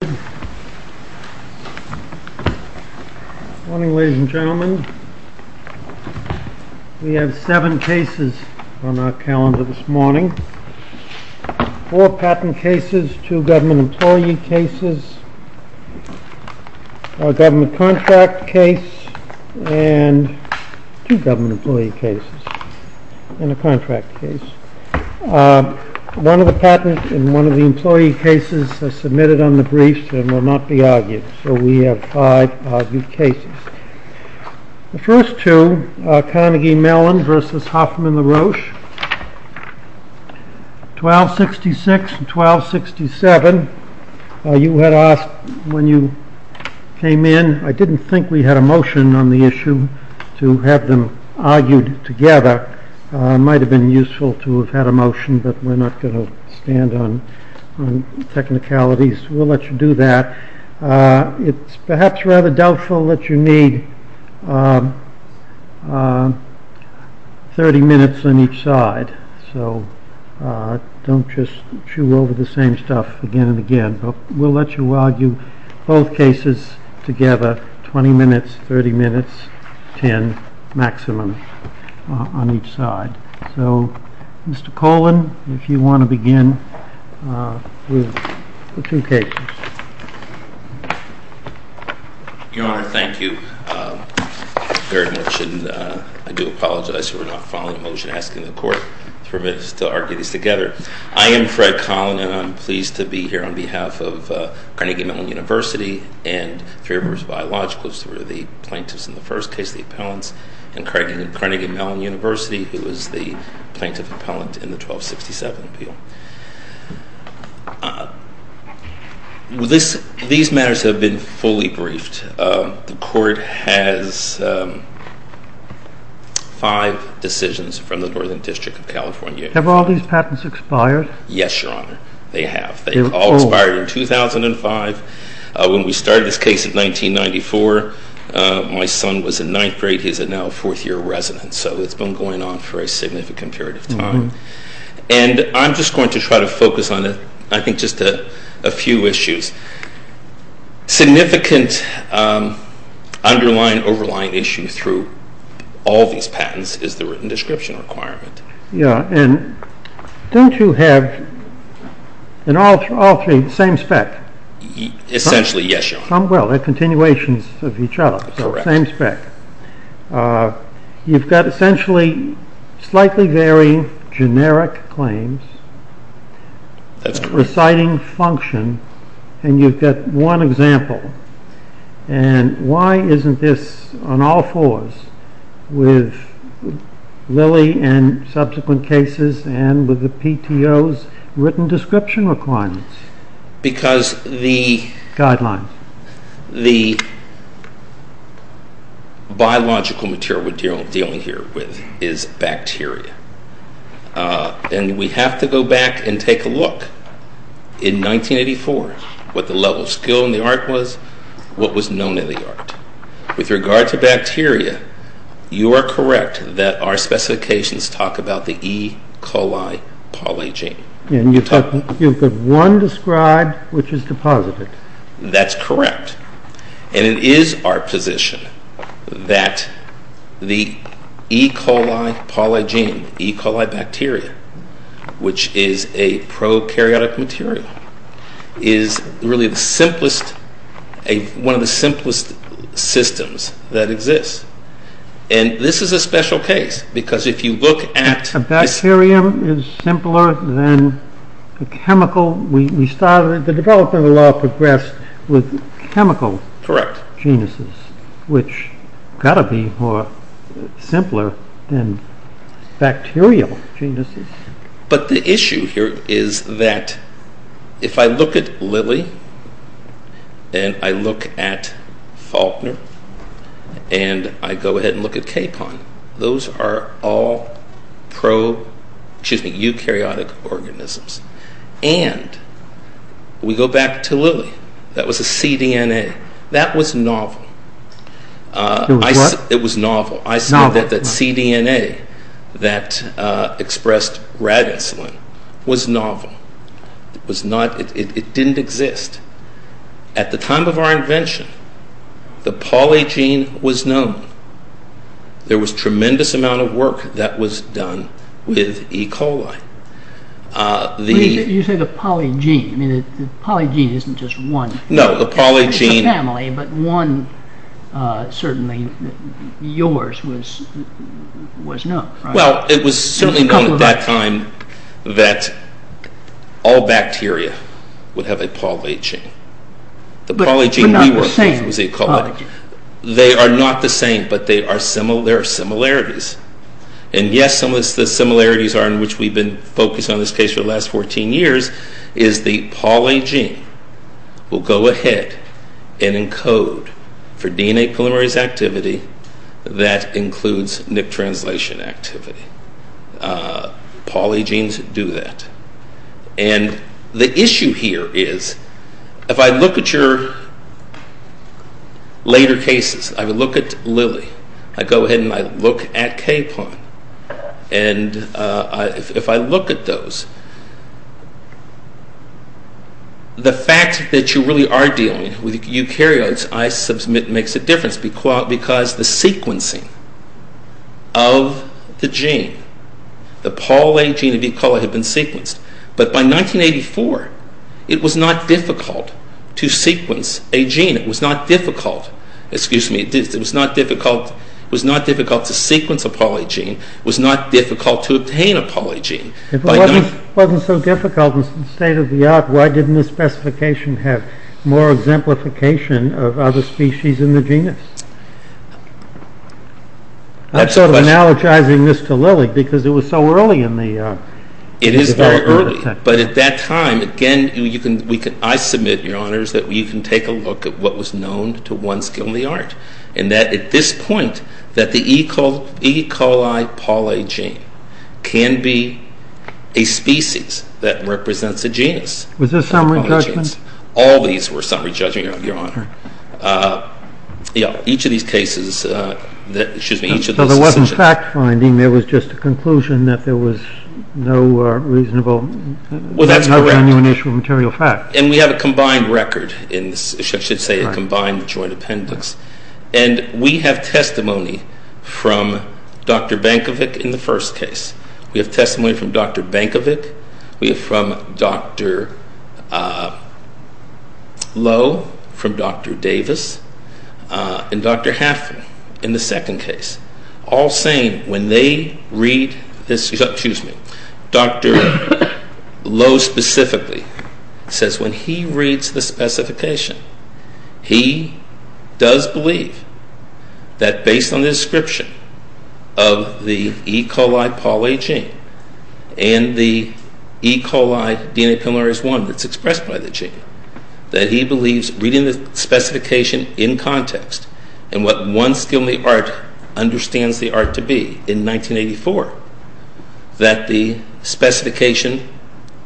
Good morning, ladies and gentlemen. We have seven cases on our calendar this morning. Four patent cases, two government employee cases, a government contract case, and two government employee cases, and a contract case. One of the patent and one of the employee cases has submitted on the briefs and will not be argued. So we have five argued cases. The first two, Carnegie Mellon v. Hoffman-LA Roche, 1266 and 1267. You had asked when you came in, I didn't think we had a motion on the issue to have them argued together. It might have been useful to have had a motion, but we're not going to stand on technicalities. We'll let you do that. It's perhaps rather doubtful that you need 30 minutes on each side, so don't just chew over the same stuff again and again. We'll let you argue both cases together, 20 minutes, 30 minutes, 10, maximum, on each side. So, Mr. Collin, if you want to begin with the two cases. Your Honor, thank you very much, and I do apologize for not following a motion asking the Court to permit us to argue these together. I am Fred Collin, and I'm pleased to be here on behalf of Carnegie Mellon University and Three Rivers Biologicals, who were the plaintiffs in the first case, the appellants, and Carnegie Mellon University, who was the plaintiff appellant in the 1267 appeal. These matters have been fully briefed. The Court has five decisions from the Northern District of California. Have all these patents expired? Yes, Your Honor, they have. They all expired in 2005. When we started this case in 1994, my son was in ninth grade. He's now a fourth-year resident, so it's been going on for a significant period of time. And I'm just going to try to focus on, I think, just a few issues. Significant underlying, overlying issue through all these patents is the written description requirement. Yeah, and don't you have, in all three, the same spec? Essentially, yes, Your Honor. Well, they're continuations of each other, so same spec. You've got essentially slightly varying generic claims, reciting function, and you've got one example. And why isn't this on all fours with Lilly and subsequent cases and with the PTO's written description requirements? Because the biological material we're dealing here with is bacteria. And we have to go back and take a look in 1984, what the level of skill in the art was, what was known in the art. With regard to bacteria, you are correct that our specifications talk about the E. coli polygene. And you've got one described, which is deposited. That's correct. And it is our position that the E. coli polygene, E. coli bacteria, which is a prokaryotic material, is really one of the simplest systems that exists. And this is a special case, because if you look at... Sodium is simpler than the chemical... The development of the law progressed with chemical genuses, which have got to be simpler than bacterial genuses. But the issue here is that if I look at Lilly, and I look at Faulkner, and I go ahead and look at Capon, those are all eukaryotic organisms. And we go back to Lilly. That was a cDNA. That was novel. It was what? It was novel. I said that cDNA that expressed rat insulin was novel. It didn't exist. At the time of our invention, the polygene was known. There was a tremendous amount of work that was done with E. coli. You said a polygene. I mean, the polygene isn't just one. No, the polygene... It's a family, but one, certainly, yours, was known, right? Well, it was certainly known at that time that all bacteria would have a polygene. But not the same polygene. They are not the same, but there are similarities. And, yes, some of the similarities are in which we've been focused on this case for the last 14 years, is the polygene will go ahead and encode for DNA polymerase activity that includes nick translation activity. Polygenes do that. And the issue here is, if I look at your later cases, I would look at Lilly. I go ahead and I look at Kaplan. And if I look at those, the fact that you really are dealing with eukaryotes, I submit, makes a difference because the sequencing of the gene, the polygene of E. coli had been sequenced. But by 1984, it was not difficult to sequence a gene. It was not difficult, excuse me, it was not difficult to sequence a polygene. It was not difficult to obtain a polygene. If it wasn't so difficult and state-of-the-art, why didn't the specification have more exemplification of other species in the genus? I'm sort of analogizing this to Lilly because it was so early in the development. It is very early, but at that time, again, I submit, Your Honors, that you can take a look at what was known to one skill in the art, and that at this point, that the E. coli polygene can be a species that represents a genus. Was this summary judgment? All these were summary judgment, Your Honor. Each of these cases, excuse me, each of those decisions. So there wasn't fact-finding, there was just a conclusion that there was no reasonable... Well, that's correct. ...initial material fact. And we have a combined record in this. I should say a combined joint appendix. And we have testimony from Dr. Bankovic in the first case. We have testimony from Dr. Bankovic. We have from Dr. Lowe, from Dr. Davis, and Dr. Halfin in the second case. All saying, when they read this... Excuse me. Dr. Lowe specifically says when he reads the specification, he does believe that based on the description of the E. coli polygene and the E. coli DNA polymerase I that's expressed by the gene, that he believes reading the specification in context and what one skill in the art understands the art to be in 1984, that the specification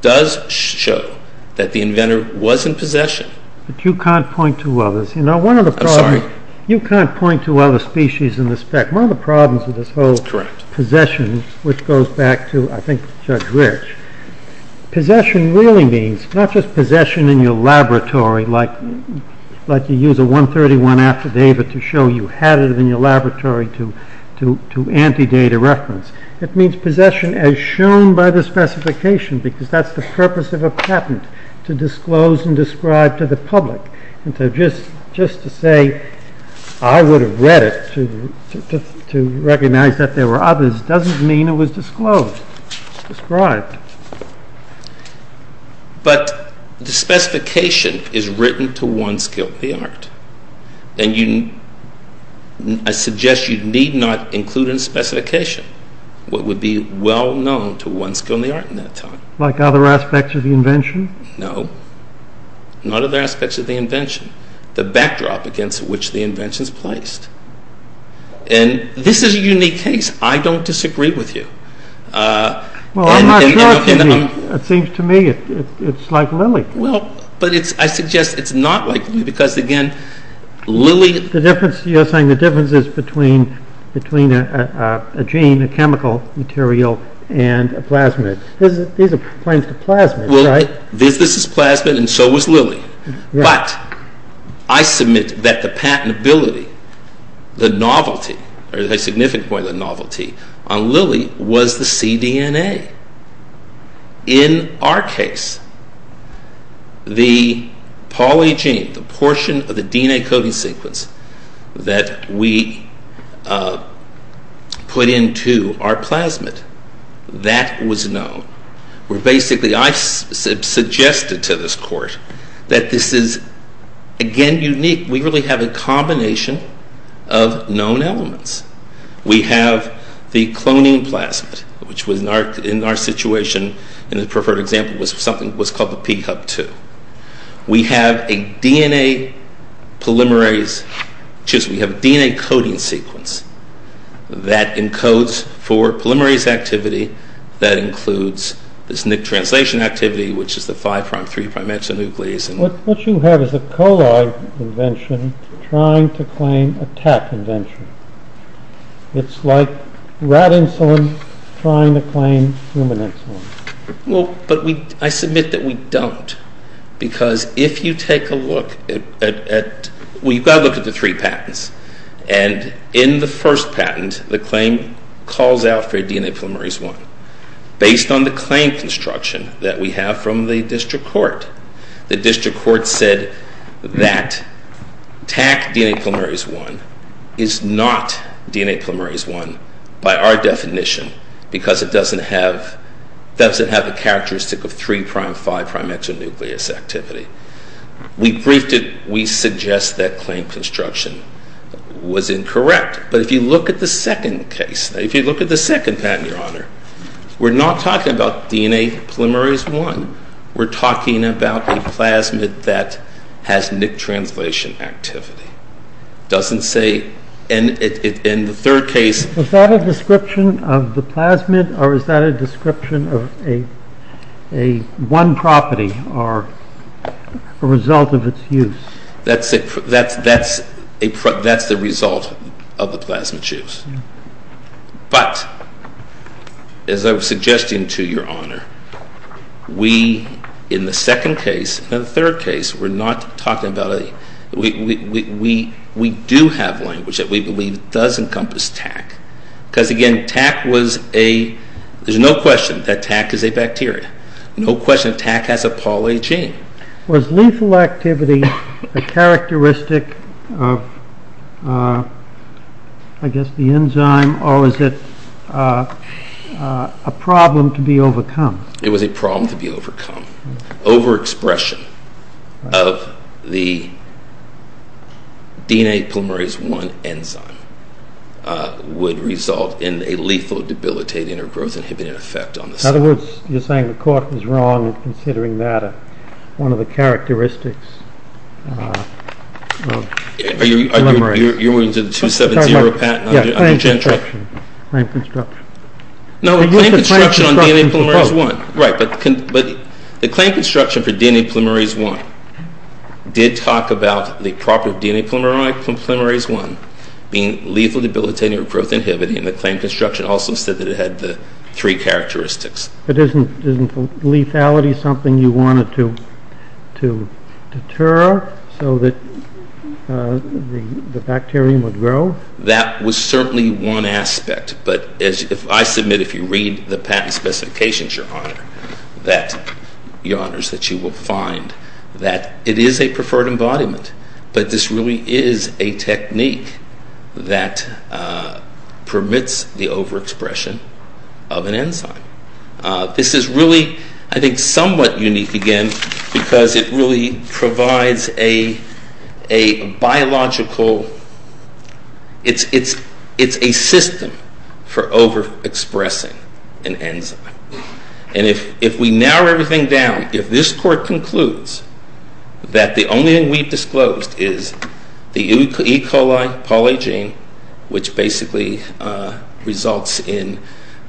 does show that the inventor was in possession. But you can't point to others. You know, one of the problems... I'm sorry. You can't point to other species in the spec. One of the problems with this whole... That's correct. ...possession, which goes back to, I think, Judge Rich, possession really means not just possession in your laboratory, like you use a 131 after David to show you had it in your laboratory to anti-data reference. It means possession as shown by the specification, because that's the purpose of a patent, to disclose and describe to the public. And just to say, I would have read it to recognize that there were others, doesn't mean it was disclosed, described. But the specification is written to one skill, the art. And I suggest you need not include in the specification what would be well known to one skill in the art in that time. Like other aspects of the invention? No. Not other aspects of the invention. The backdrop against which the invention is placed. And this is a unique case. I don't disagree with you. Well, I'm not sure it can be. It seems to me it's like Lilly. Well, but I suggest it's not like Lilly, because, again, Lilly... You're saying the difference is between a gene, a chemical material, and a plasmid. These are planes to plasmids, right? Well, this is plasmid, and so was Lilly. But I submit that the patentability, the novelty, or a significant point of novelty on Lilly was the cDNA. In our case, the polygene, the portion of the DNA coding sequence that we put into our plasmid, that was known. Basically, I suggested to this court that this is, again, unique. We really have a combination of known elements. We have the cloning plasmid, which in our situation, in the preferred example, was called the P-Hub2. We have a DNA coding sequence that encodes for polymerase activity that includes this nick translation activity, which is the 5'3' exonuclease. What you have is a coli invention trying to claim a tat invention. It's like rat insulin trying to claim human insulin. Well, but I submit that we don't, because if you take a look at... Well, you've got to look at the three patents. And in the first patent, the claim calls out for DNA polymerase I. Based on the claim construction that we have from the district court, the district court said that TAC DNA polymerase I is not DNA polymerase I by our definition because it doesn't have the characteristic of 3'5' exonuclease activity. We briefed it. We suggest that claim construction was incorrect. But if you look at the second case, if you look at the second patent, Your Honor, we're not talking about DNA polymerase I. We're talking about a plasmid that has nick translation activity. It doesn't say... And the third case... Was that a description of the plasmid, or is that a description of one property or a result of its use? That's the result of the plasmid's use. But, as I was suggesting to Your Honor, we, in the second case and the third case, we're not talking about a... We do have language that we believe does encompass TAC because, again, TAC was a... There's no question that TAC is a bacteria. No question TAC has a polygene. Was lethal activity a characteristic of, I guess, the enzyme, or was it a problem to be overcome? It was a problem to be overcome. Overexpression of the DNA polymerase I enzyme would result in a lethal debilitating or growth inhibiting effect on the cell. In other words, you're saying the court was wrong considering that one of the characteristics of polymerase. You're moving to the 270 patent. Claim construction. No, claim construction on DNA polymerase I. Right, but the claim construction for DNA polymerase I did talk about the property of DNA polymerase I being lethal debilitating or growth inhibiting, and the claim construction also said that it had the three characteristics. But isn't lethality something you wanted to deter so that the bacterium would grow? That was certainly one aspect, but I submit if you read the patent specifications, Your Honor, that you will find that it is a preferred embodiment, but this really is a technique that permits the overexpression of an enzyme. This is really, I think, somewhat unique, again, because it really provides a biological, it's a system for overexpressing an enzyme. And if we narrow everything down, if this court concludes that the only thing we've disclosed is the E. coli polygene, which basically results in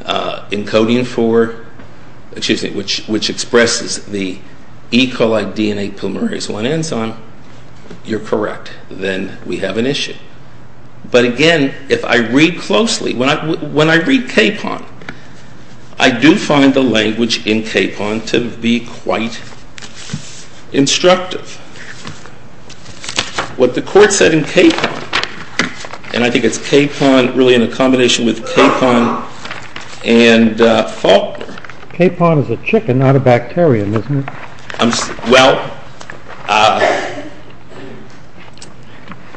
encoding for, excuse me, which expresses the E. coli DNA polymerase I enzyme, you're correct. Then we have an issue. But again, if I read closely, when I read Kapon, I do find the language in Kapon to be quite instructive. What the court said in Kapon, and I think it's Kapon, really in a combination with Kapon and Faulkner. Kapon is a chicken, not a bacterium, isn't it? Well,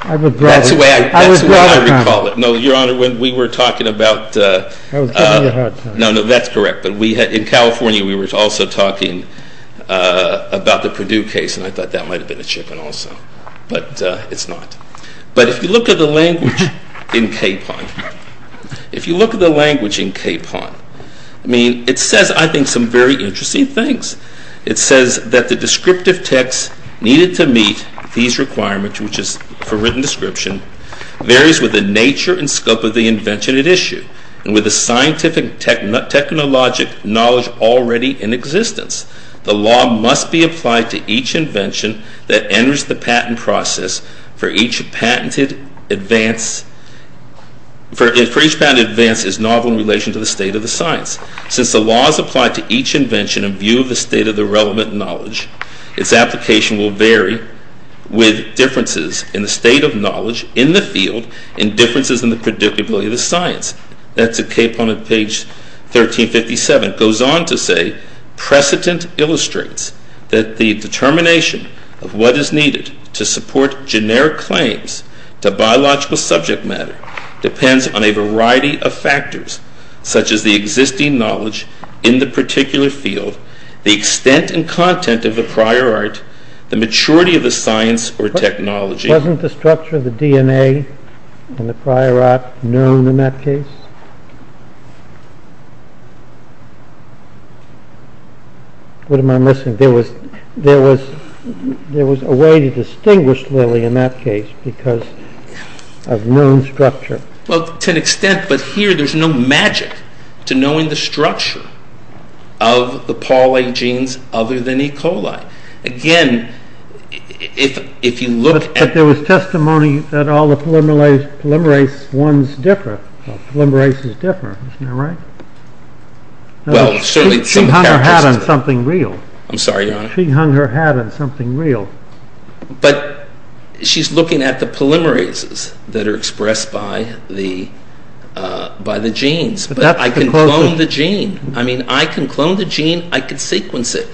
that's the way I recall it. No, Your Honor, when we were talking about... I was giving you a hard time. No, no, that's correct. But in California we were also talking about the Purdue case, and I thought that might have been a chicken also. But it's not. But if you look at the language in Kapon, if you look at the language in Kapon, I mean, it says, I think, some very interesting things. It says that the descriptive text needed to meet these requirements, which is for written description, varies with the nature and scope of the invention at issue. And with the scientific technologic knowledge already in existence, the law must be applied to each invention that enters the patent process for each patented advance. For each patented advance is novel in relation to the state of the science. Since the law is applied to each invention in view of the state of the relevant knowledge, its application will vary with differences in the state of knowledge in the field and differences in the predictability of the science. That's at Kapon on page 1357. It goes on to say, precedent illustrates that the determination of what is needed to support generic claims to biological subject matter depends on a variety of factors, such as the existing knowledge in the particular field, the extent and content of the prior art, the maturity of the science or technology. Wasn't the structure of the DNA and the prior art known in that case? What am I missing? There was a way to distinguish Lilly in that case because of known structure. Well, to an extent, but here there's no magic to knowing the structure of the polygenes other than E. coli. Again, if you look at... But there was testimony that all the polymerase ones differ, polymerase is different, isn't that right? She hung her hat on something real. I'm sorry, Your Honor. She hung her hat on something real. But she's looking at the polymerases that are expressed by the genes. But I can clone the gene. I mean, I can clone the gene, I can sequence it.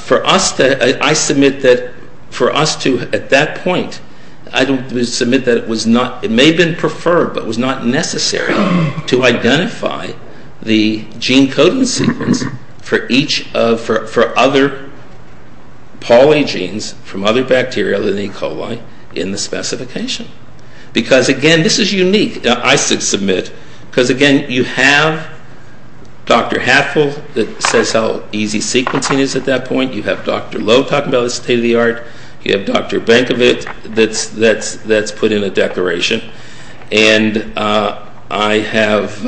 For us, I submit that for us to, at that point, I submit that it may have been preferred, but was not necessary to identify the gene coding sequence for other polygenes from other bacteria other than E. coli in the specification. Because, again, this is unique. Now, I submit, because, again, you have Dr. Hatful that says how easy sequencing is at that point. You have Dr. Lowe talking about the state of the art. You have Dr. Bankovic that's put in a declaration. And I have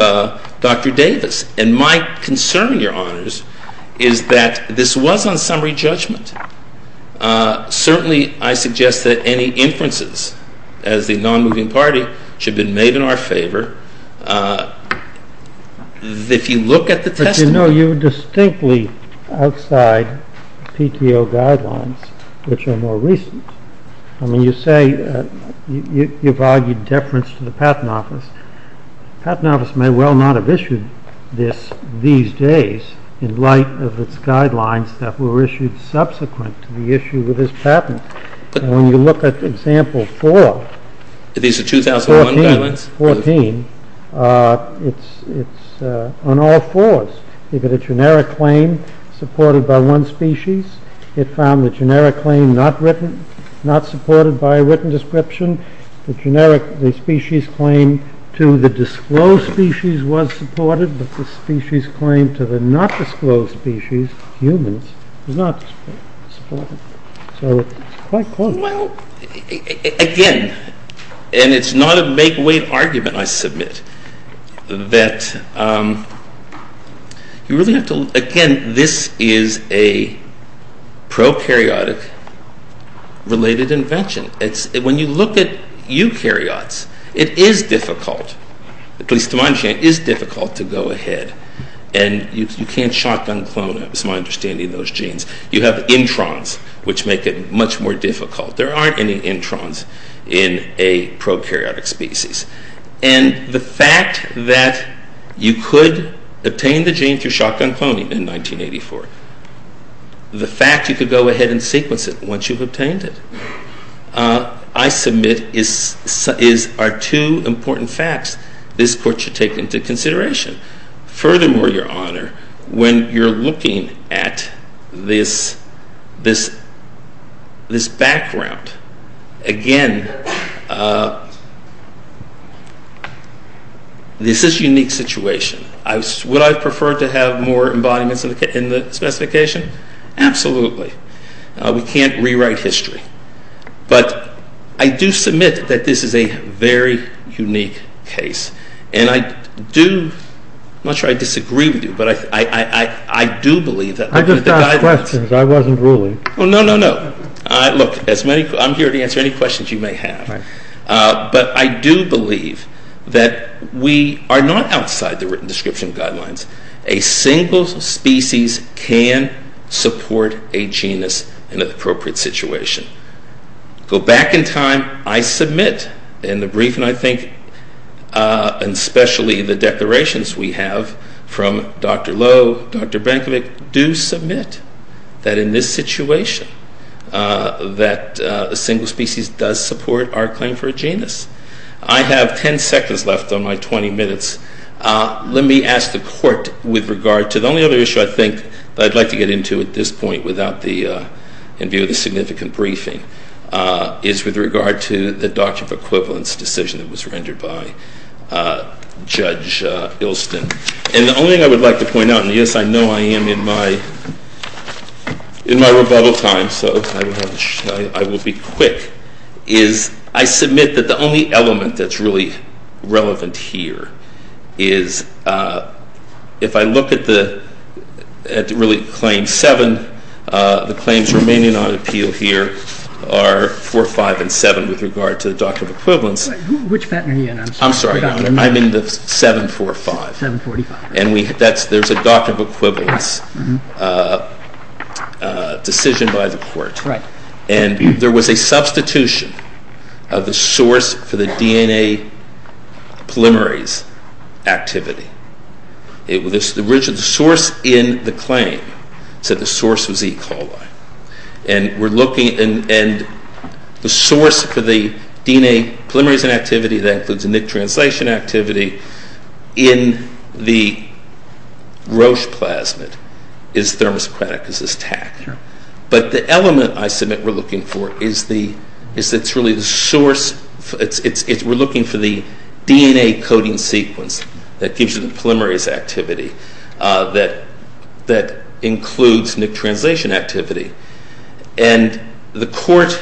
Dr. Davis. And my concern, Your Honors, is that this was on summary judgment. Certainly, I suggest that any inferences as the non-moving party should have been made in our favor. If you look at the testimony. But you know, you're distinctly outside PTO guidelines, which are more recent. I mean, you say you've argued deference to the Patent Office. The Patent Office may well not have issued this these days in light of its guidelines that were issued subsequent to the issue with this patent. And when you look at example four, 2014, it's on all fours. You've got a generic claim supported by one species. It found the generic claim not supported by a written description. The generic species claim to the disclosed species was supported. But the species claim to the not disclosed species, humans, was not supported. So it's quite close. Well, again, and it's not a make-weight argument, I submit, that you really have to look. Again, this is a prokaryotic-related invention. When you look at eukaryotes, it is difficult, at least to my understanding, it is difficult to go ahead. And you can't shotgun clone, it's my understanding, those genes. You have introns, which make it much more difficult. There aren't any introns in a prokaryotic species. And the fact that you could obtain the gene to make your shotgun cloning in 1984, the fact you could go ahead and sequence it once you've obtained it, I submit, are two important facts this Court should take into consideration. Furthermore, Your Honor, when you're looking at this background, again, this is a unique situation. Would I prefer to have more embodiments in the specification? Absolutely. We can't rewrite history. But I do submit that this is a very unique case. And I do, I'm not sure I disagree with you, but I do believe that... I just asked questions. I wasn't ruling. Oh, no, no, no. Look, I'm here to answer any questions you may have. But I do believe that we are not outside the written description guidelines. A single species can support a genus in an appropriate situation. Go back in time. I submit in the brief, and I think, especially the declarations we have from Dr. Lowe, Dr. Brankovic, do submit that in this situation, that a single species does support our claim for a genus. I have 10 seconds left on my 20 minutes. Let me ask the court with regard to... The only other issue, I think, that I'd like to get into at this point in view of the significant briefing, is with regard to the doctrine of equivalence decision that was rendered by Judge Ilston. And the only thing I would like to point out, and yes, I know I am in my rebuttal time, so I will be quick, is I submit that the only element that's really relevant here is if I look at really Claim 7, the claims remaining on appeal here are 4, 5, and 7 with regard to the doctrine of equivalence. Which patent are you in? I'm sorry, Your Honor, I'm in the 7, 4, 5. 7, 45. And there's a doctrine of equivalence decision by the court. That's right. And there was a substitution of the source for the DNA polymerase activity. The original source in the claim said the source was E. coli. And we're looking... And the source for the DNA polymerase inactivity that includes the NIC translation activity in the Roche plasmid is thermosaccharide, because it's TAC. But the element I submit we're looking for is that it's really the source... We're looking for the DNA coding sequence that gives you the polymerase activity that includes NIC translation activity. And the court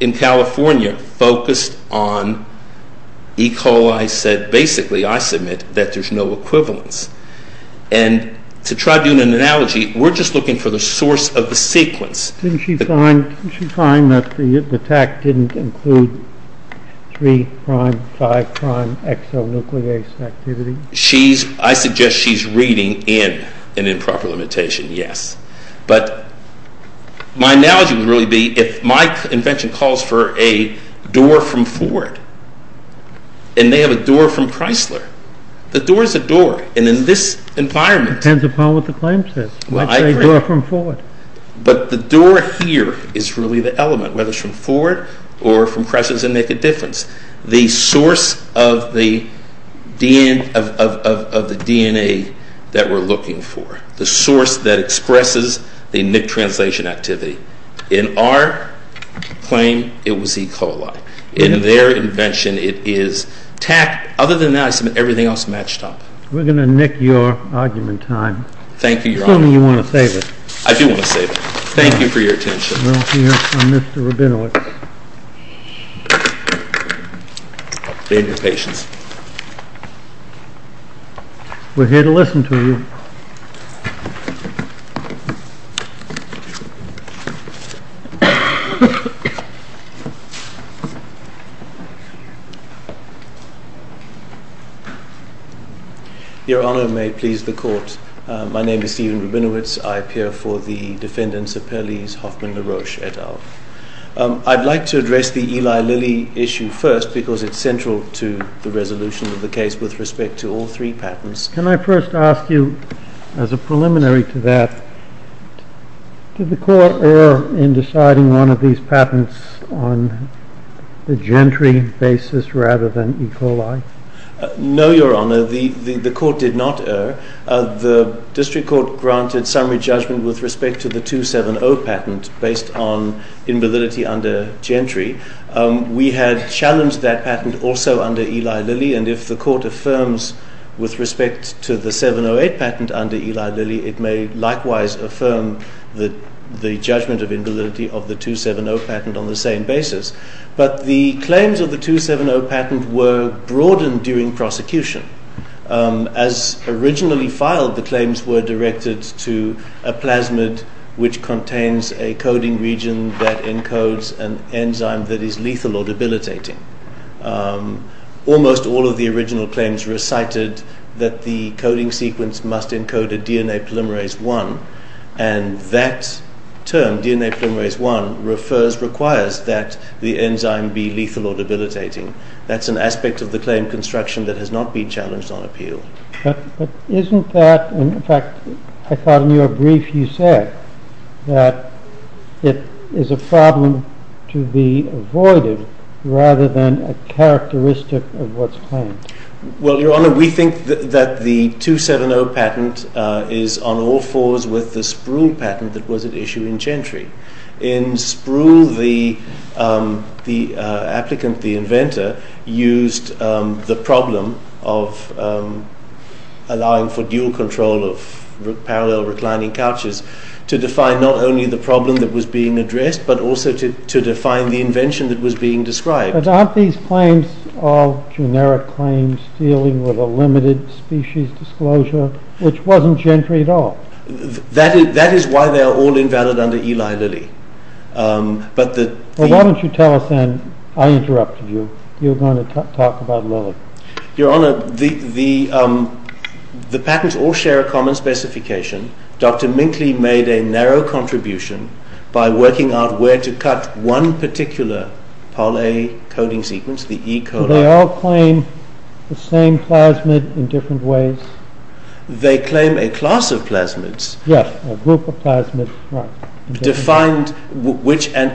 in California focused on E. coli, said basically, I submit, that there's no equivalence. And to try to do an analogy, we're just looking for the source of the sequence. Didn't she find that the TAC didn't include 3-prime, 5-prime exonuclease activity? I suggest she's reading in an improper limitation, yes. But my analogy would really be if my invention calls for a door from Ford and they have a door from Chrysler. The door is a door. And in this environment... That's a door from Ford. But the door here is really the element, whether it's from Ford or from Chrysler, doesn't make a difference. The source of the DNA that we're looking for, the source that expresses the NIC translation activity. In our claim, it was E. coli. In their invention, it is TAC. Other than that, I submit everything else matched up. We're going to nick your argument time. Thank you, Your Honor. Assuming you want to save it. I do want to save it. Thank you for your attention. Well, here's from Mr. Rabinowitz. Be of your patience. We're here to listen to you. Your Honor, may it please the court. My name is Stephen Rabinowitz. I appear for the defendants of Perle's Hoffman-LaRoche et al. I'd like to address the Eli Lilly issue first because it's central to the resolution of the case with respect to all three patents. to explain to me what the definition of a patent is? Preliminary to that, did the court err in deciding one of these patents on the Gentry basis rather than E. coli? No, Your Honor. The court did not err. The district court granted summary judgment with respect to the 270 patent based on invalidity under Gentry. We had challenged that patent also under Eli Lilly. And if the court affirms with respect to the 708 patent under Eli Lilly, it may likewise affirm the judgment of invalidity of the 270 patent on the same basis. But the claims of the 270 patent were broadened during prosecution. As originally filed, the claims were directed to a plasmid which contains a coding region that encodes an enzyme that is lethal or debilitating. Almost all of the original claims recited that the coding sequence must encode a DNA polymerase I. And that term, DNA polymerase I, requires that the enzyme be lethal or debilitating. That's an aspect of the claim construction that has not been challenged on appeal. But isn't that... In fact, I thought in your brief you said that it is a problem to be avoided rather than a characteristic of what's claimed. Well, Your Honor, we think that the 270 patent is on all fours with the Spruill patent that was at issue in Gentry. In Spruill, the applicant, the inventor, used the problem of allowing for dual control of parallel reclining couches to define not only the problem that was being addressed, but also to define the invention that was being described. But aren't these claims all generic claims dealing with a limited species disclosure, which wasn't Gentry at all? That is why they are all invalid under Eli Lilly. Why don't you tell us then... I interrupted you. You were going to talk about Lilly. Your Honor, the patents all share a common specification. Dr. Minkley made a narrow contribution by working out where to cut one particular poly-A coding sequence, the E. coli. Do they all claim the same plasmid in different ways? They claim a class of plasmids. Yes, a group of plasmids.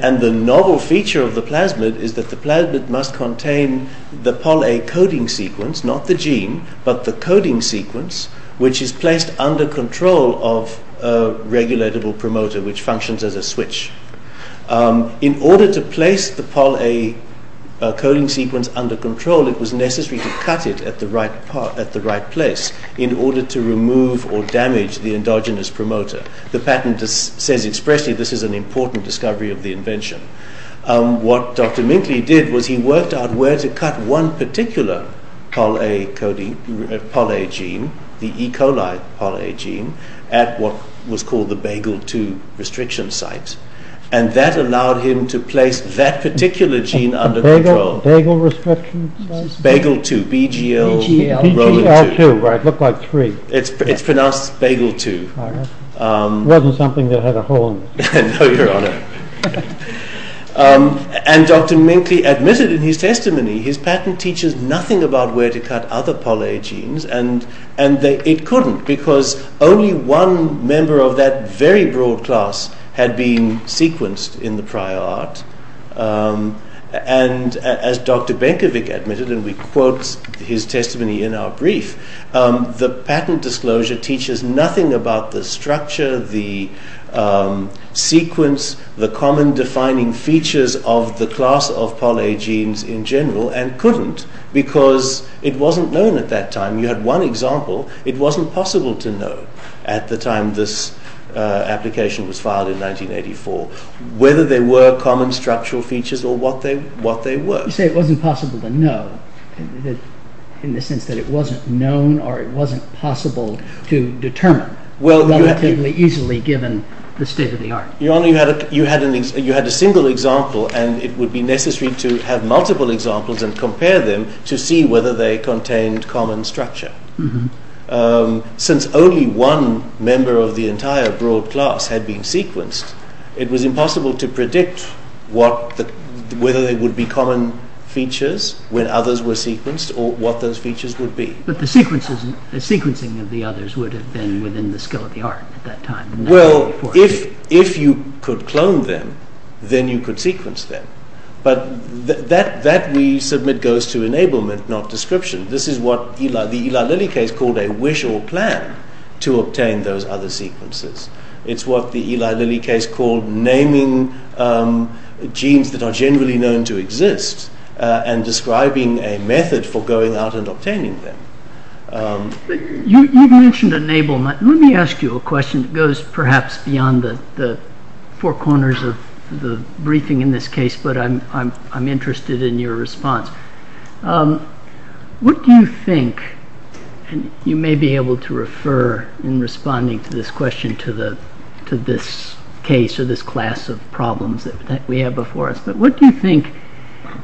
And the novel feature of the plasmid is that the plasmid must contain the poly-A coding sequence, not the gene, but the coding sequence, which is placed under control of a regulatable promoter which functions as a switch. In order to place the poly-A coding sequence under control, it was necessary to cut it at the right place in order to remove or damage the endogenous promoter. The patent says expressly this is an important discovery of the invention. What Dr. Minkley did was he worked out where to cut one particular poly-A gene, the E. coli poly-A gene, at what was called the bagel-2 restriction site. And that allowed him to place that particular gene under control. Bagel restriction site? Bagel-2, B-G-L-2. B-G-L-2, right, it looked like three. It's pronounced bagel-2. It wasn't something that had a hole in it. No, Your Honor. And Dr. Minkley admitted in his testimony his patent teaches nothing about where to cut other poly-A genes and it couldn't because only one member of that very broad class had been sequenced in the prior art. And as Dr. Benkovic admitted, and we quote his testimony in our brief, the patent disclosure teaches nothing about the structure, the sequence, the common defining features of the class of poly-A genes in general, and couldn't because it wasn't known at that time. You had one example. It wasn't possible to know at the time this application was filed in 1984 whether they were common structural features or what they were. You say it wasn't possible to know in the sense that it wasn't known or it wasn't possible to determine relatively easily given the state of the art. Your Honor, you had a single example and it would be necessary to have multiple examples and compare them to see whether they contained common structure. Since only one member of the entire broad class had been sequenced, it was impossible to predict whether they would be common features when others were sequenced or what those features would be. But the sequencing of the others would have been within the scale of the art at that time. Well, if you could clone them, then you could sequence them. But that we submit goes to enablement, not description. This is what the Eli Lilly case called a wish or plan to obtain those other sequences. It's what the Eli Lilly case called naming genes that are generally known to exist and describing a method for going out and obtaining them. You mentioned enablement. Let me ask you a question that goes perhaps beyond the four corners of the briefing in this case, but I'm interested in your response. What do you think, and you may be able to refer in responding to this question to this case or this class of problems that we have before us, but what do you think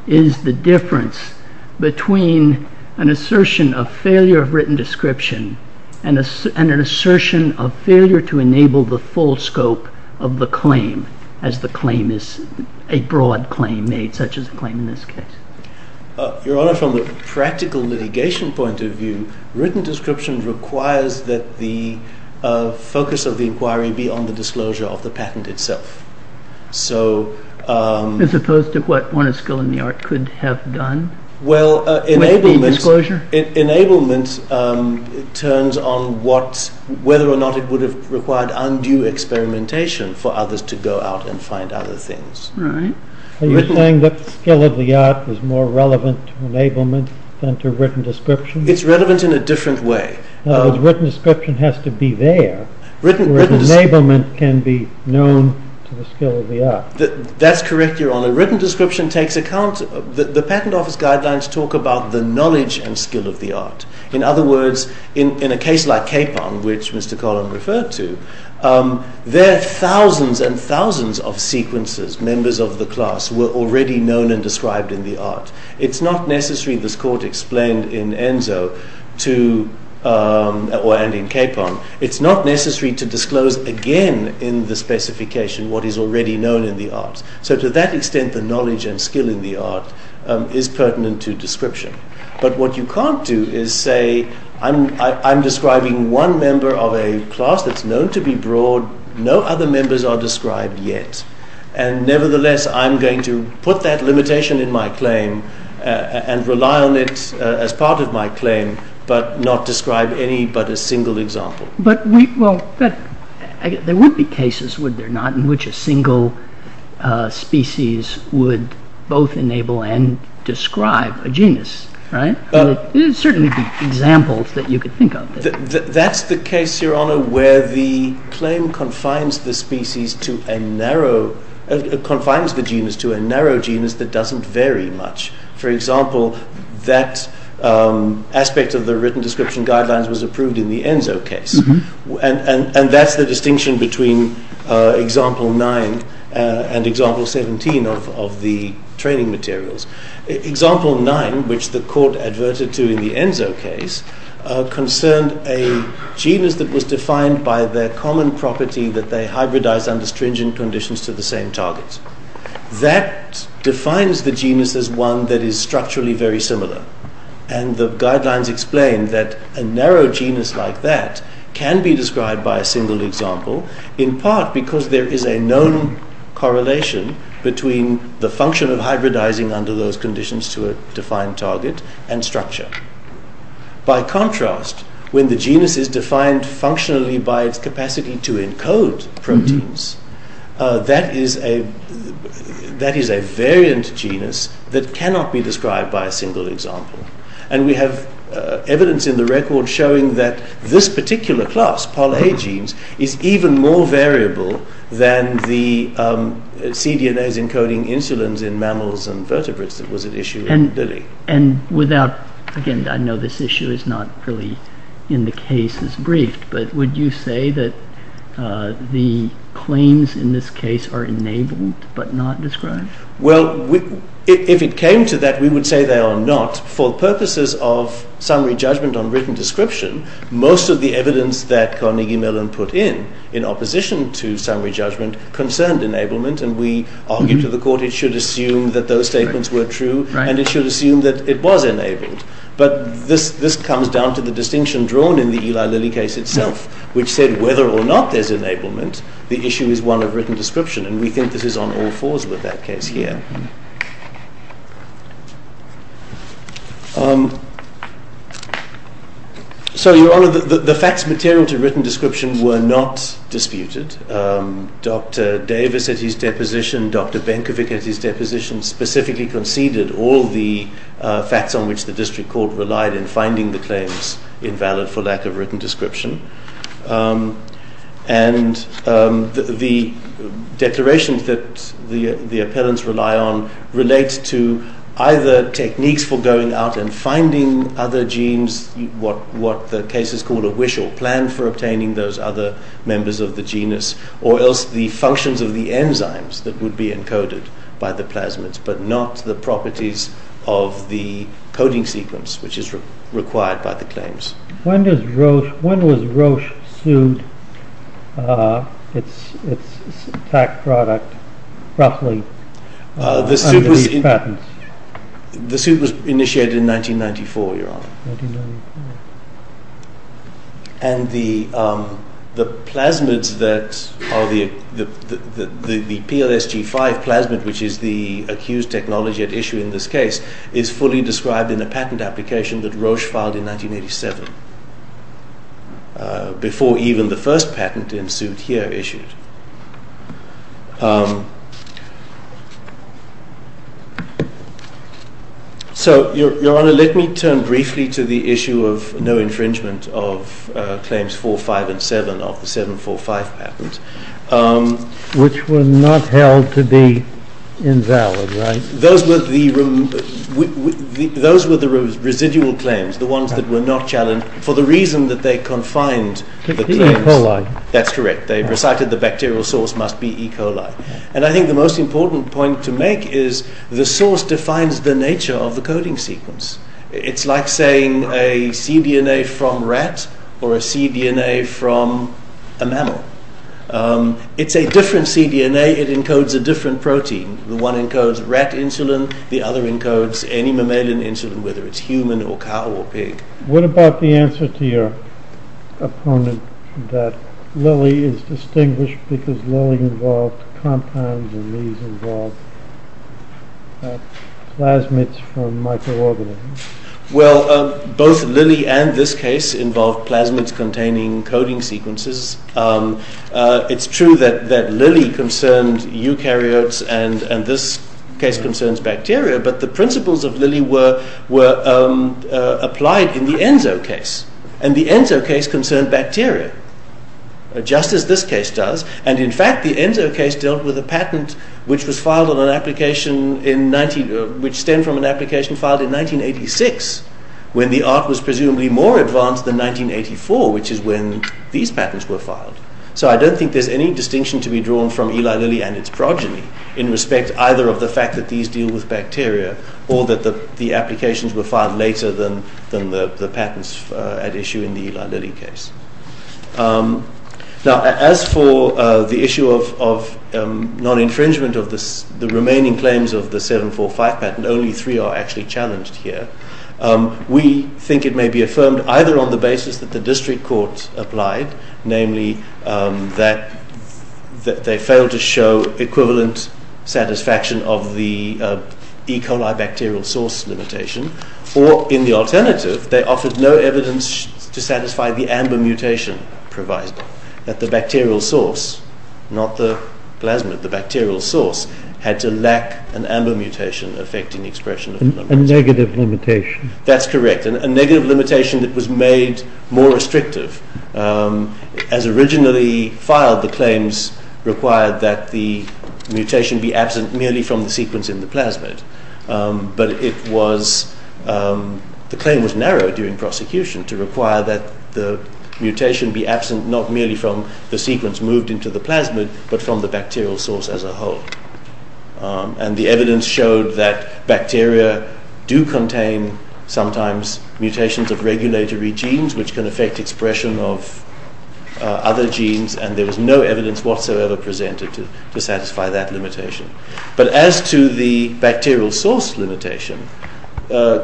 is the difference between an assertion of failure of written description and an assertion of failure to enable the full scope of the claim as the claim is a broad claim made, such as the claim in this case? Your Honor, from a practical litigation point of view, written description requires that the focus of the inquiry be on the disclosure of the patent itself. As opposed to what one of skill in the art could have done? Well, enablement turns on whether or not it would have required undue experimentation for others to go out and find other things. Are you saying that the skill of the art is more relevant to enablement than to written description? It's relevant in a different way. The written description has to be there where the enablement can be known to the skill of the art. That's correct, Your Honor. The written description takes account... The patent office guidelines talk about the knowledge and skill of the art. In other words, in a case like Capon, which Mr. Collin referred to, there are thousands and thousands of sequences, members of the class were already known and described in the art. It's not necessary, this court explained in Enzo, or ending Capon, it's not necessary to disclose again in the specification what is already known in the art. So to that extent, the knowledge and skill in the art is pertinent to description. But what you can't do is say, I'm describing one member of a class that's known to be broad, no other members are described yet. And nevertheless, I'm going to put that limitation in my claim and rely on it as part of my claim, but not describe any but a single example. But there would be cases, would there not, in which a single species would both enable and describe a genus, right? There would certainly be examples that you could think of. That's the case, Your Honor, where the claim confines the species to a narrow... confines the genus to a narrow genus that doesn't vary much. For example, that aspect of the written description guidelines was approved in the Enzo case. And that's the distinction between example 9 and example 17 of the training materials. Example 9, which the court adverted to in the Enzo case, concerned a genus that was defined by their common property that they hybridized under stringent conditions to the same targets. That defines the genus as one that is structurally very similar. And the guidelines explain that a narrow genus like that can be described by a single example, in part because there is a known correlation between the function of hybridizing under those conditions to a defined target and structure. By contrast, when the genus is defined functionally by its capacity to encode proteins, that is a variant genus that cannot be described by a single example. And we have evidence in the record showing that this particular class, PolA genes, is even more variable than the cDNAs encoding insulins in mammals and vertebrates that was at issue in Delhi. And without... again, I know this issue is not really in the case as brief, but would you say that the claims in this case are enabled but not described? Well, if it came to that, we would say they are not. For purposes of summary judgment on written description, most of the evidence that Carnegie Mellon put in in opposition to summary judgment concerned enablement, and we argued to the court it should assume that those statements were true and it should assume that it was enabled. But this comes down to the distinction drawn in the Eli Lilly case itself, which said whether or not there's enablement, the issue is one of written description, and we think this is on all fours with that case here. So, Your Honor, the facts material to written description were not disputed. Dr. Davis at his deposition, Dr. Benkovic at his deposition specifically conceded all the facts on which the district court relied in finding the claims invalid for lack of written description. And the declarations that the appellants rely on relate to either techniques for going out and finding other genes, what the case is called a wish or plan for obtaining those other members of the genus, or else the functions of the enzymes that would be encoded by the plasmids, but not the properties of the coding sequence which is required by the claims. When was Roche sued its fact product, roughly, under these patents? The suit was initiated in 1994, Your Honor. And the plasmids that are the PLSG5 plasmid, which is the accused technology at issue in this case, is fully described in a patent application that Roche filed in 1987, before even the first patent in suit here issued. So, Your Honor, let me turn briefly to the issue of no infringement of claims 4, 5, and 7 of the 7, 4, 5 patent. Which were not held to be invalid, right? Those were the residual claims, the ones that were not challenged, for the reason that they confined the claims. E. coli. That's correct. They recited the bacterial source must be E. coli. And I think the most important point to make is the source defines the nature of the coding sequence. It's like saying a cDNA from rat or a cDNA from a mammal. It's a different cDNA, it encodes a different protein. One encodes rat insulin, the other encodes any mammalian insulin, whether it's human or cow or pig. What about the answer to your opponent that Lilly is distinguished because Lilly involved compounds and these involved plasmids from microorganisms? Well, both Lilly and this case involved plasmids containing coding sequences. It's true that Lilly concerned eukaryotes and this case concerns bacteria, but the principles of Lilly were applied in the Enzo case. And the Enzo case concerned bacteria, just as this case does. And in fact, the Enzo case dealt with a patent which was filed on an application, which stemmed from an application filed in 1986 when the art was presumably more advanced than 1984, which is when these patents were filed. So I don't think there's any distinction to be drawn from Eli Lilly and its progeny in respect either of the fact that these deal with bacteria or that the applications were filed later than the patents at issue in the Eli Lilly case. Now, as for the issue of non-infringement of the remaining claims of the 745 patent, only three are actually challenged here. We think it may be affirmed either on the basis that the district court applied, namely that they failed to show equivalent satisfaction of the E. coli bacterial source limitation, or in the alternative, they offered no evidence to satisfy the AMBA mutation provised, that the bacterial source, not the plasmid, the bacterial source, had to lack an AMBA mutation affecting the expression of the non-infringement. A negative limitation. That's correct. A negative limitation that was made more restrictive. As originally filed, the claims required that the mutation be absent merely from the sequence in the plasmid, but the claim was narrowed during prosecution to require that the mutation be absent not merely from the sequence moved into the plasmid, but from the bacterial source as a whole. And the evidence showed that bacteria do contain sometimes mutations of regulatory genes which can affect expression of other genes, and there was no evidence whatsoever presented to satisfy that limitation. But as to the bacterial source limitation,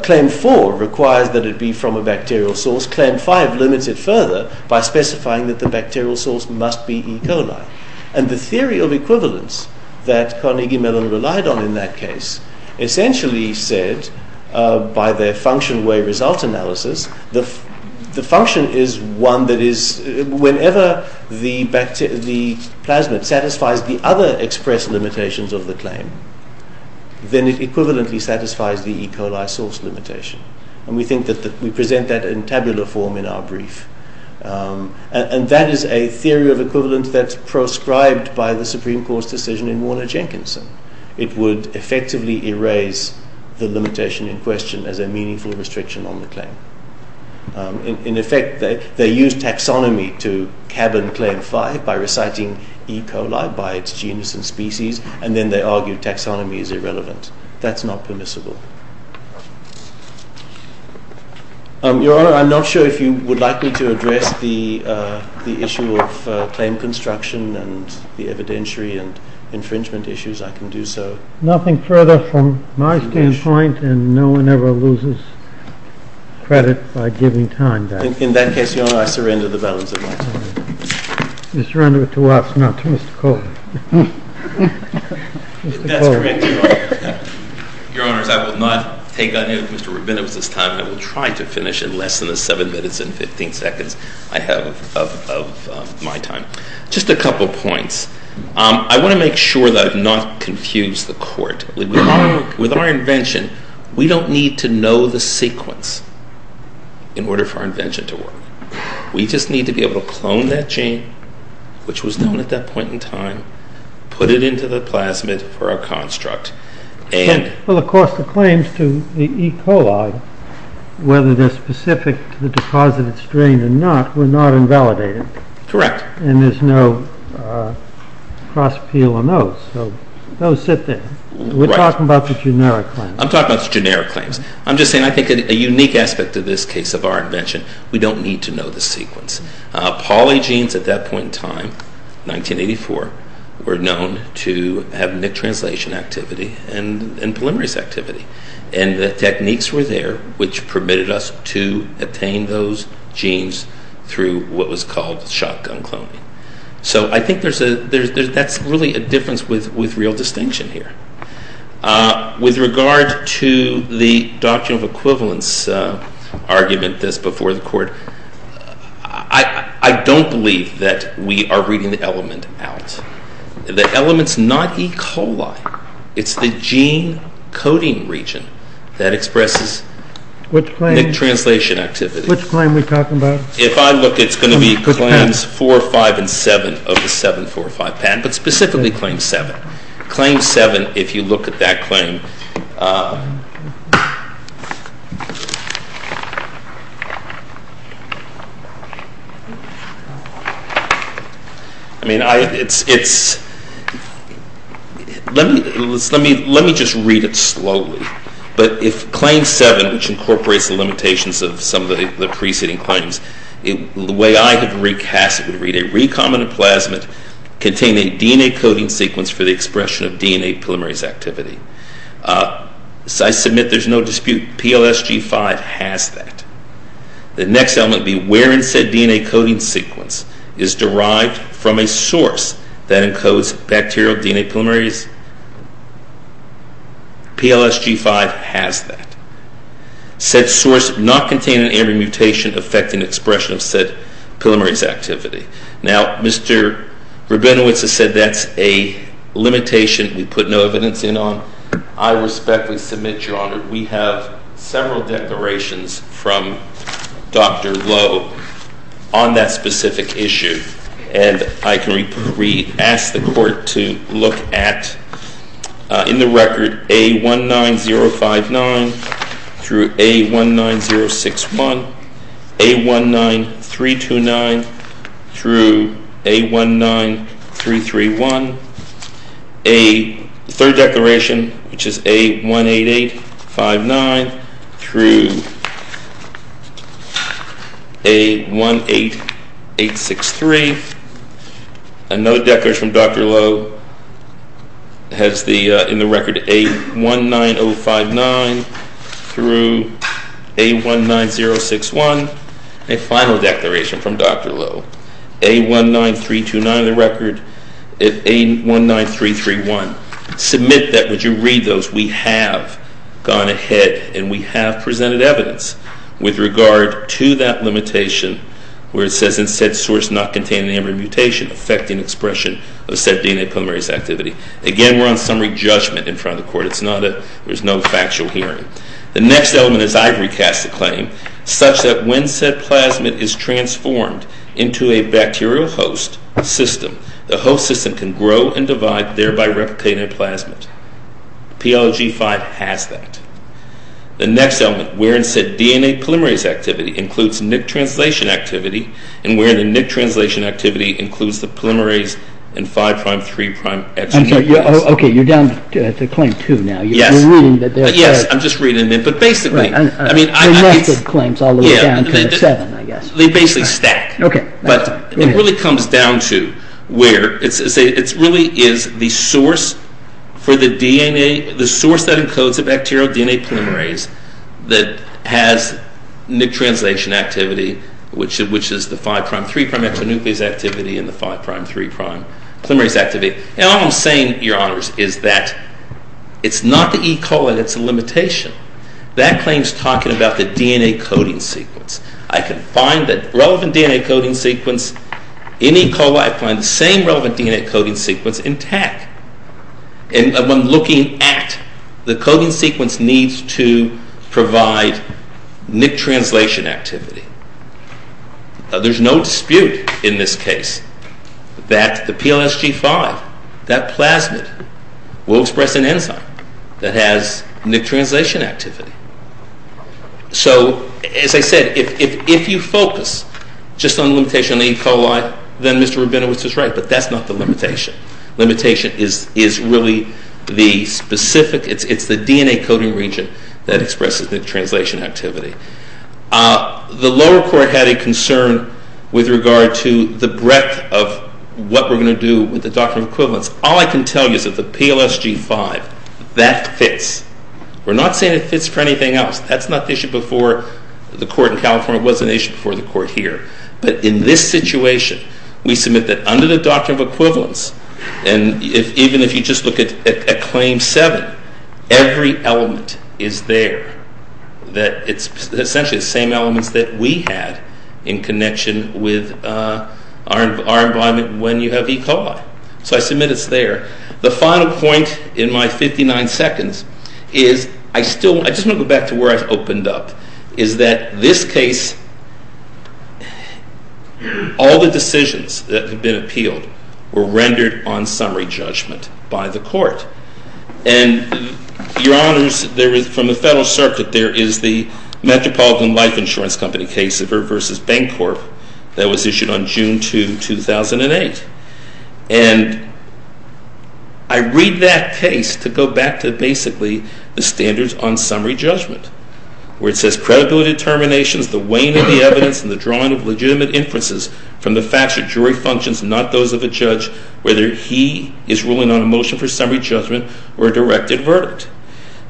claim 4 requires that it be from a bacterial source. Claim 5 limits it further by specifying that the bacterial source must be E. coli. And the theory of equivalence that Carnegie Mellon relied on in that case essentially said, by their function-way result analysis, the function is one that is, whenever the plasmid satisfies the other express limitations of the claim, then it equivalently satisfies the E. coli source limitation. And we think that we present that in tabular form in our brief. And that is a theory of equivalence that's proscribed by the Supreme Court's decision in Warner-Jenkinson. It would effectively erase the limitation in question as a meaningful restriction on the claim. In effect, they used taxonomy to cabin claim 5 by reciting E. coli by its genus and species, and then they argued taxonomy is irrelevant. That's not permissible. Your Honor, I'm not sure if you would like me to address the issue of claim construction and the evidentiary and infringement issues. I can do so. Nothing further from my standpoint, and no one ever loses credit by giving time. In that case, Your Honor, I surrender the balance of my time. You surrender it to us, not to Mr. Colvin. That's correct, Your Honor. Your Honors, I will not take any of Mr. Rabinowitz's time. I will try to finish in less than the 7 minutes and 15 seconds I have of my time. Just a couple points. I want to make sure that I've not confused the Court. With our invention, we don't need to know the sequence in order for our invention to work. We just need to be able to clone that gene, which was known at that point in time, put it into the plasmid for our construct. Well, of course, the claims to the E. coli, whether they're specific to the deposited strain or not, were not invalidated. Correct. And there's no cross-appeal on those. So those sit there. We're talking about the generic claims. I'm talking about the generic claims. I'm just saying I think a unique aspect of this case of our invention, we don't need to know the sequence. Polygenes, at that point in time, 1984, were known to have nick translation activity and polymerase activity. And the techniques were there, which permitted us to obtain those genes through what was called shotgun cloning. So I think that's really a difference with real distinction here. With regard to the doctrine of equivalence argument that's before the Court, I don't believe that we are reading the element out. The element's not E. coli. It's the gene coding region that expresses nick translation activity. Which claim are we talking about? If I look, it's going to be claims 4, 5, and 7 of the 7, 4, 5 patent, but specifically claim 7. Claim 7, if you look at that claim, I mean, let me just read it slowly. But if claim 7, which incorporates the limitations of some of the preceding claims, the way I have recast it would read, a recombinant plasmid containing a DNA coding sequence for the expression of DNA polymerase activity. I submit there's no dispute PLSG5 has that. The next element be wherein said DNA coding sequence is derived from a source that encodes bacterial DNA polymerase. PLSG5 has that. Said source not containing any mutation affecting expression of said polymerase activity. Now, Mr. Rabinowitz has said that's a limitation we put no evidence in on. I respectfully submit, Your Honor, we have several declarations from Dr. Lowe on that specific issue, and I can re-ask the Court to look at, in the record, A19059 through A19061, A19329 through A19331, a third declaration, which is A18859 through A18863. Another declaration from Dr. Lowe has, in the record, A19059 through A19061. A final declaration from Dr. Lowe, A19329 in the record, A19331. Submit that. Would you read those? We have gone ahead and we have presented evidence with regard to that limitation where it says in said source not containing any mutation affecting expression of said DNA polymerase activity. Again, we're on summary judgment in front of the Court. There's no factual hearing. The next element is I've recast the claim such that when said plasmid is transformed into a bacterial host system, the host system can grow and divide, thereby replicating a plasmid. PLOG5 has that. The next element, wherein said DNA polymerase activity includes NIC translation activity, and wherein the NIC translation activity includes the polymerase and 5'-3'-X. Okay, you're down to claim 2 now. Yes, I'm just reading it, but basically, I mean... The next of the claims all the way down to the 7, I guess. They basically stack. Okay. But it really comes down to where it really is the source for the DNA, the source that encodes the bacterial DNA polymerase that has NIC translation activity, which is the 5'-3'-X nucleus activity and the 5'-3' polymerase activity. And all I'm saying, Your Honors, is that it's not the E. coli that's a limitation. That claim's talking about the DNA coding sequence. I can find that relevant DNA coding sequence in E. coli. I find the same relevant DNA coding sequence intact. And when looking at the coding sequence needs to provide NIC translation activity. There's no dispute in this case that the PLSG5, that plasmid, will express an enzyme that has NIC translation activity. So, as I said, if you focus just on the limitation of E. coli, then Mr. Rabinowitz is right, but that's not the limitation. Limitation is really the specific, it's the DNA coding region that expresses NIC translation activity. The lower court had a concern with regard to the breadth of what we're going to do with the doctrine of equivalence. All I can tell you is that the PLSG5, that fits. We're not saying it fits for anything else. That's not the issue before the court in California. It was an issue before the court here. But in this situation, we submit that under the doctrine of equivalence, and even if you just look at Claim 7, every element is there. That it's essentially the same elements that we had in connection with our environment when you have E. coli. So I submit it's there. The final point in my 59 seconds is, I still, I just want to go back to where I opened up, is that this case, all the decisions that have been appealed were rendered on summary judgment by the court. And, your honors, there is, from the federal circuit, there is the Metropolitan Life Insurance Company case of her versus Bancorp that was issued on June 2, 2008. And I read that case to go back to basically the standards on summary judgment, where it says, Credible determinations, the weighing of the evidence, and the drawing of legitimate inferences from the facts of jury functions, not those of a judge, whether he is ruling on a motion for summary judgment or a directed verdict.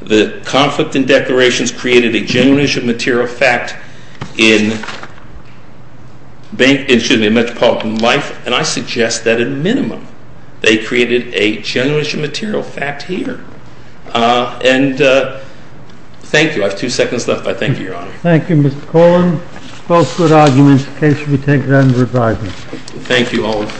The conflict in declarations created a genuine issue of material fact in Metropolitan Life, and I suggest that, at a minimum, they created a genuine issue of material fact here. And, thank you. I have two seconds left, but thank you, your honor. Thank you, Mr. Colan. Both good arguments. The case should be taken under advisement. Thank you, Olin.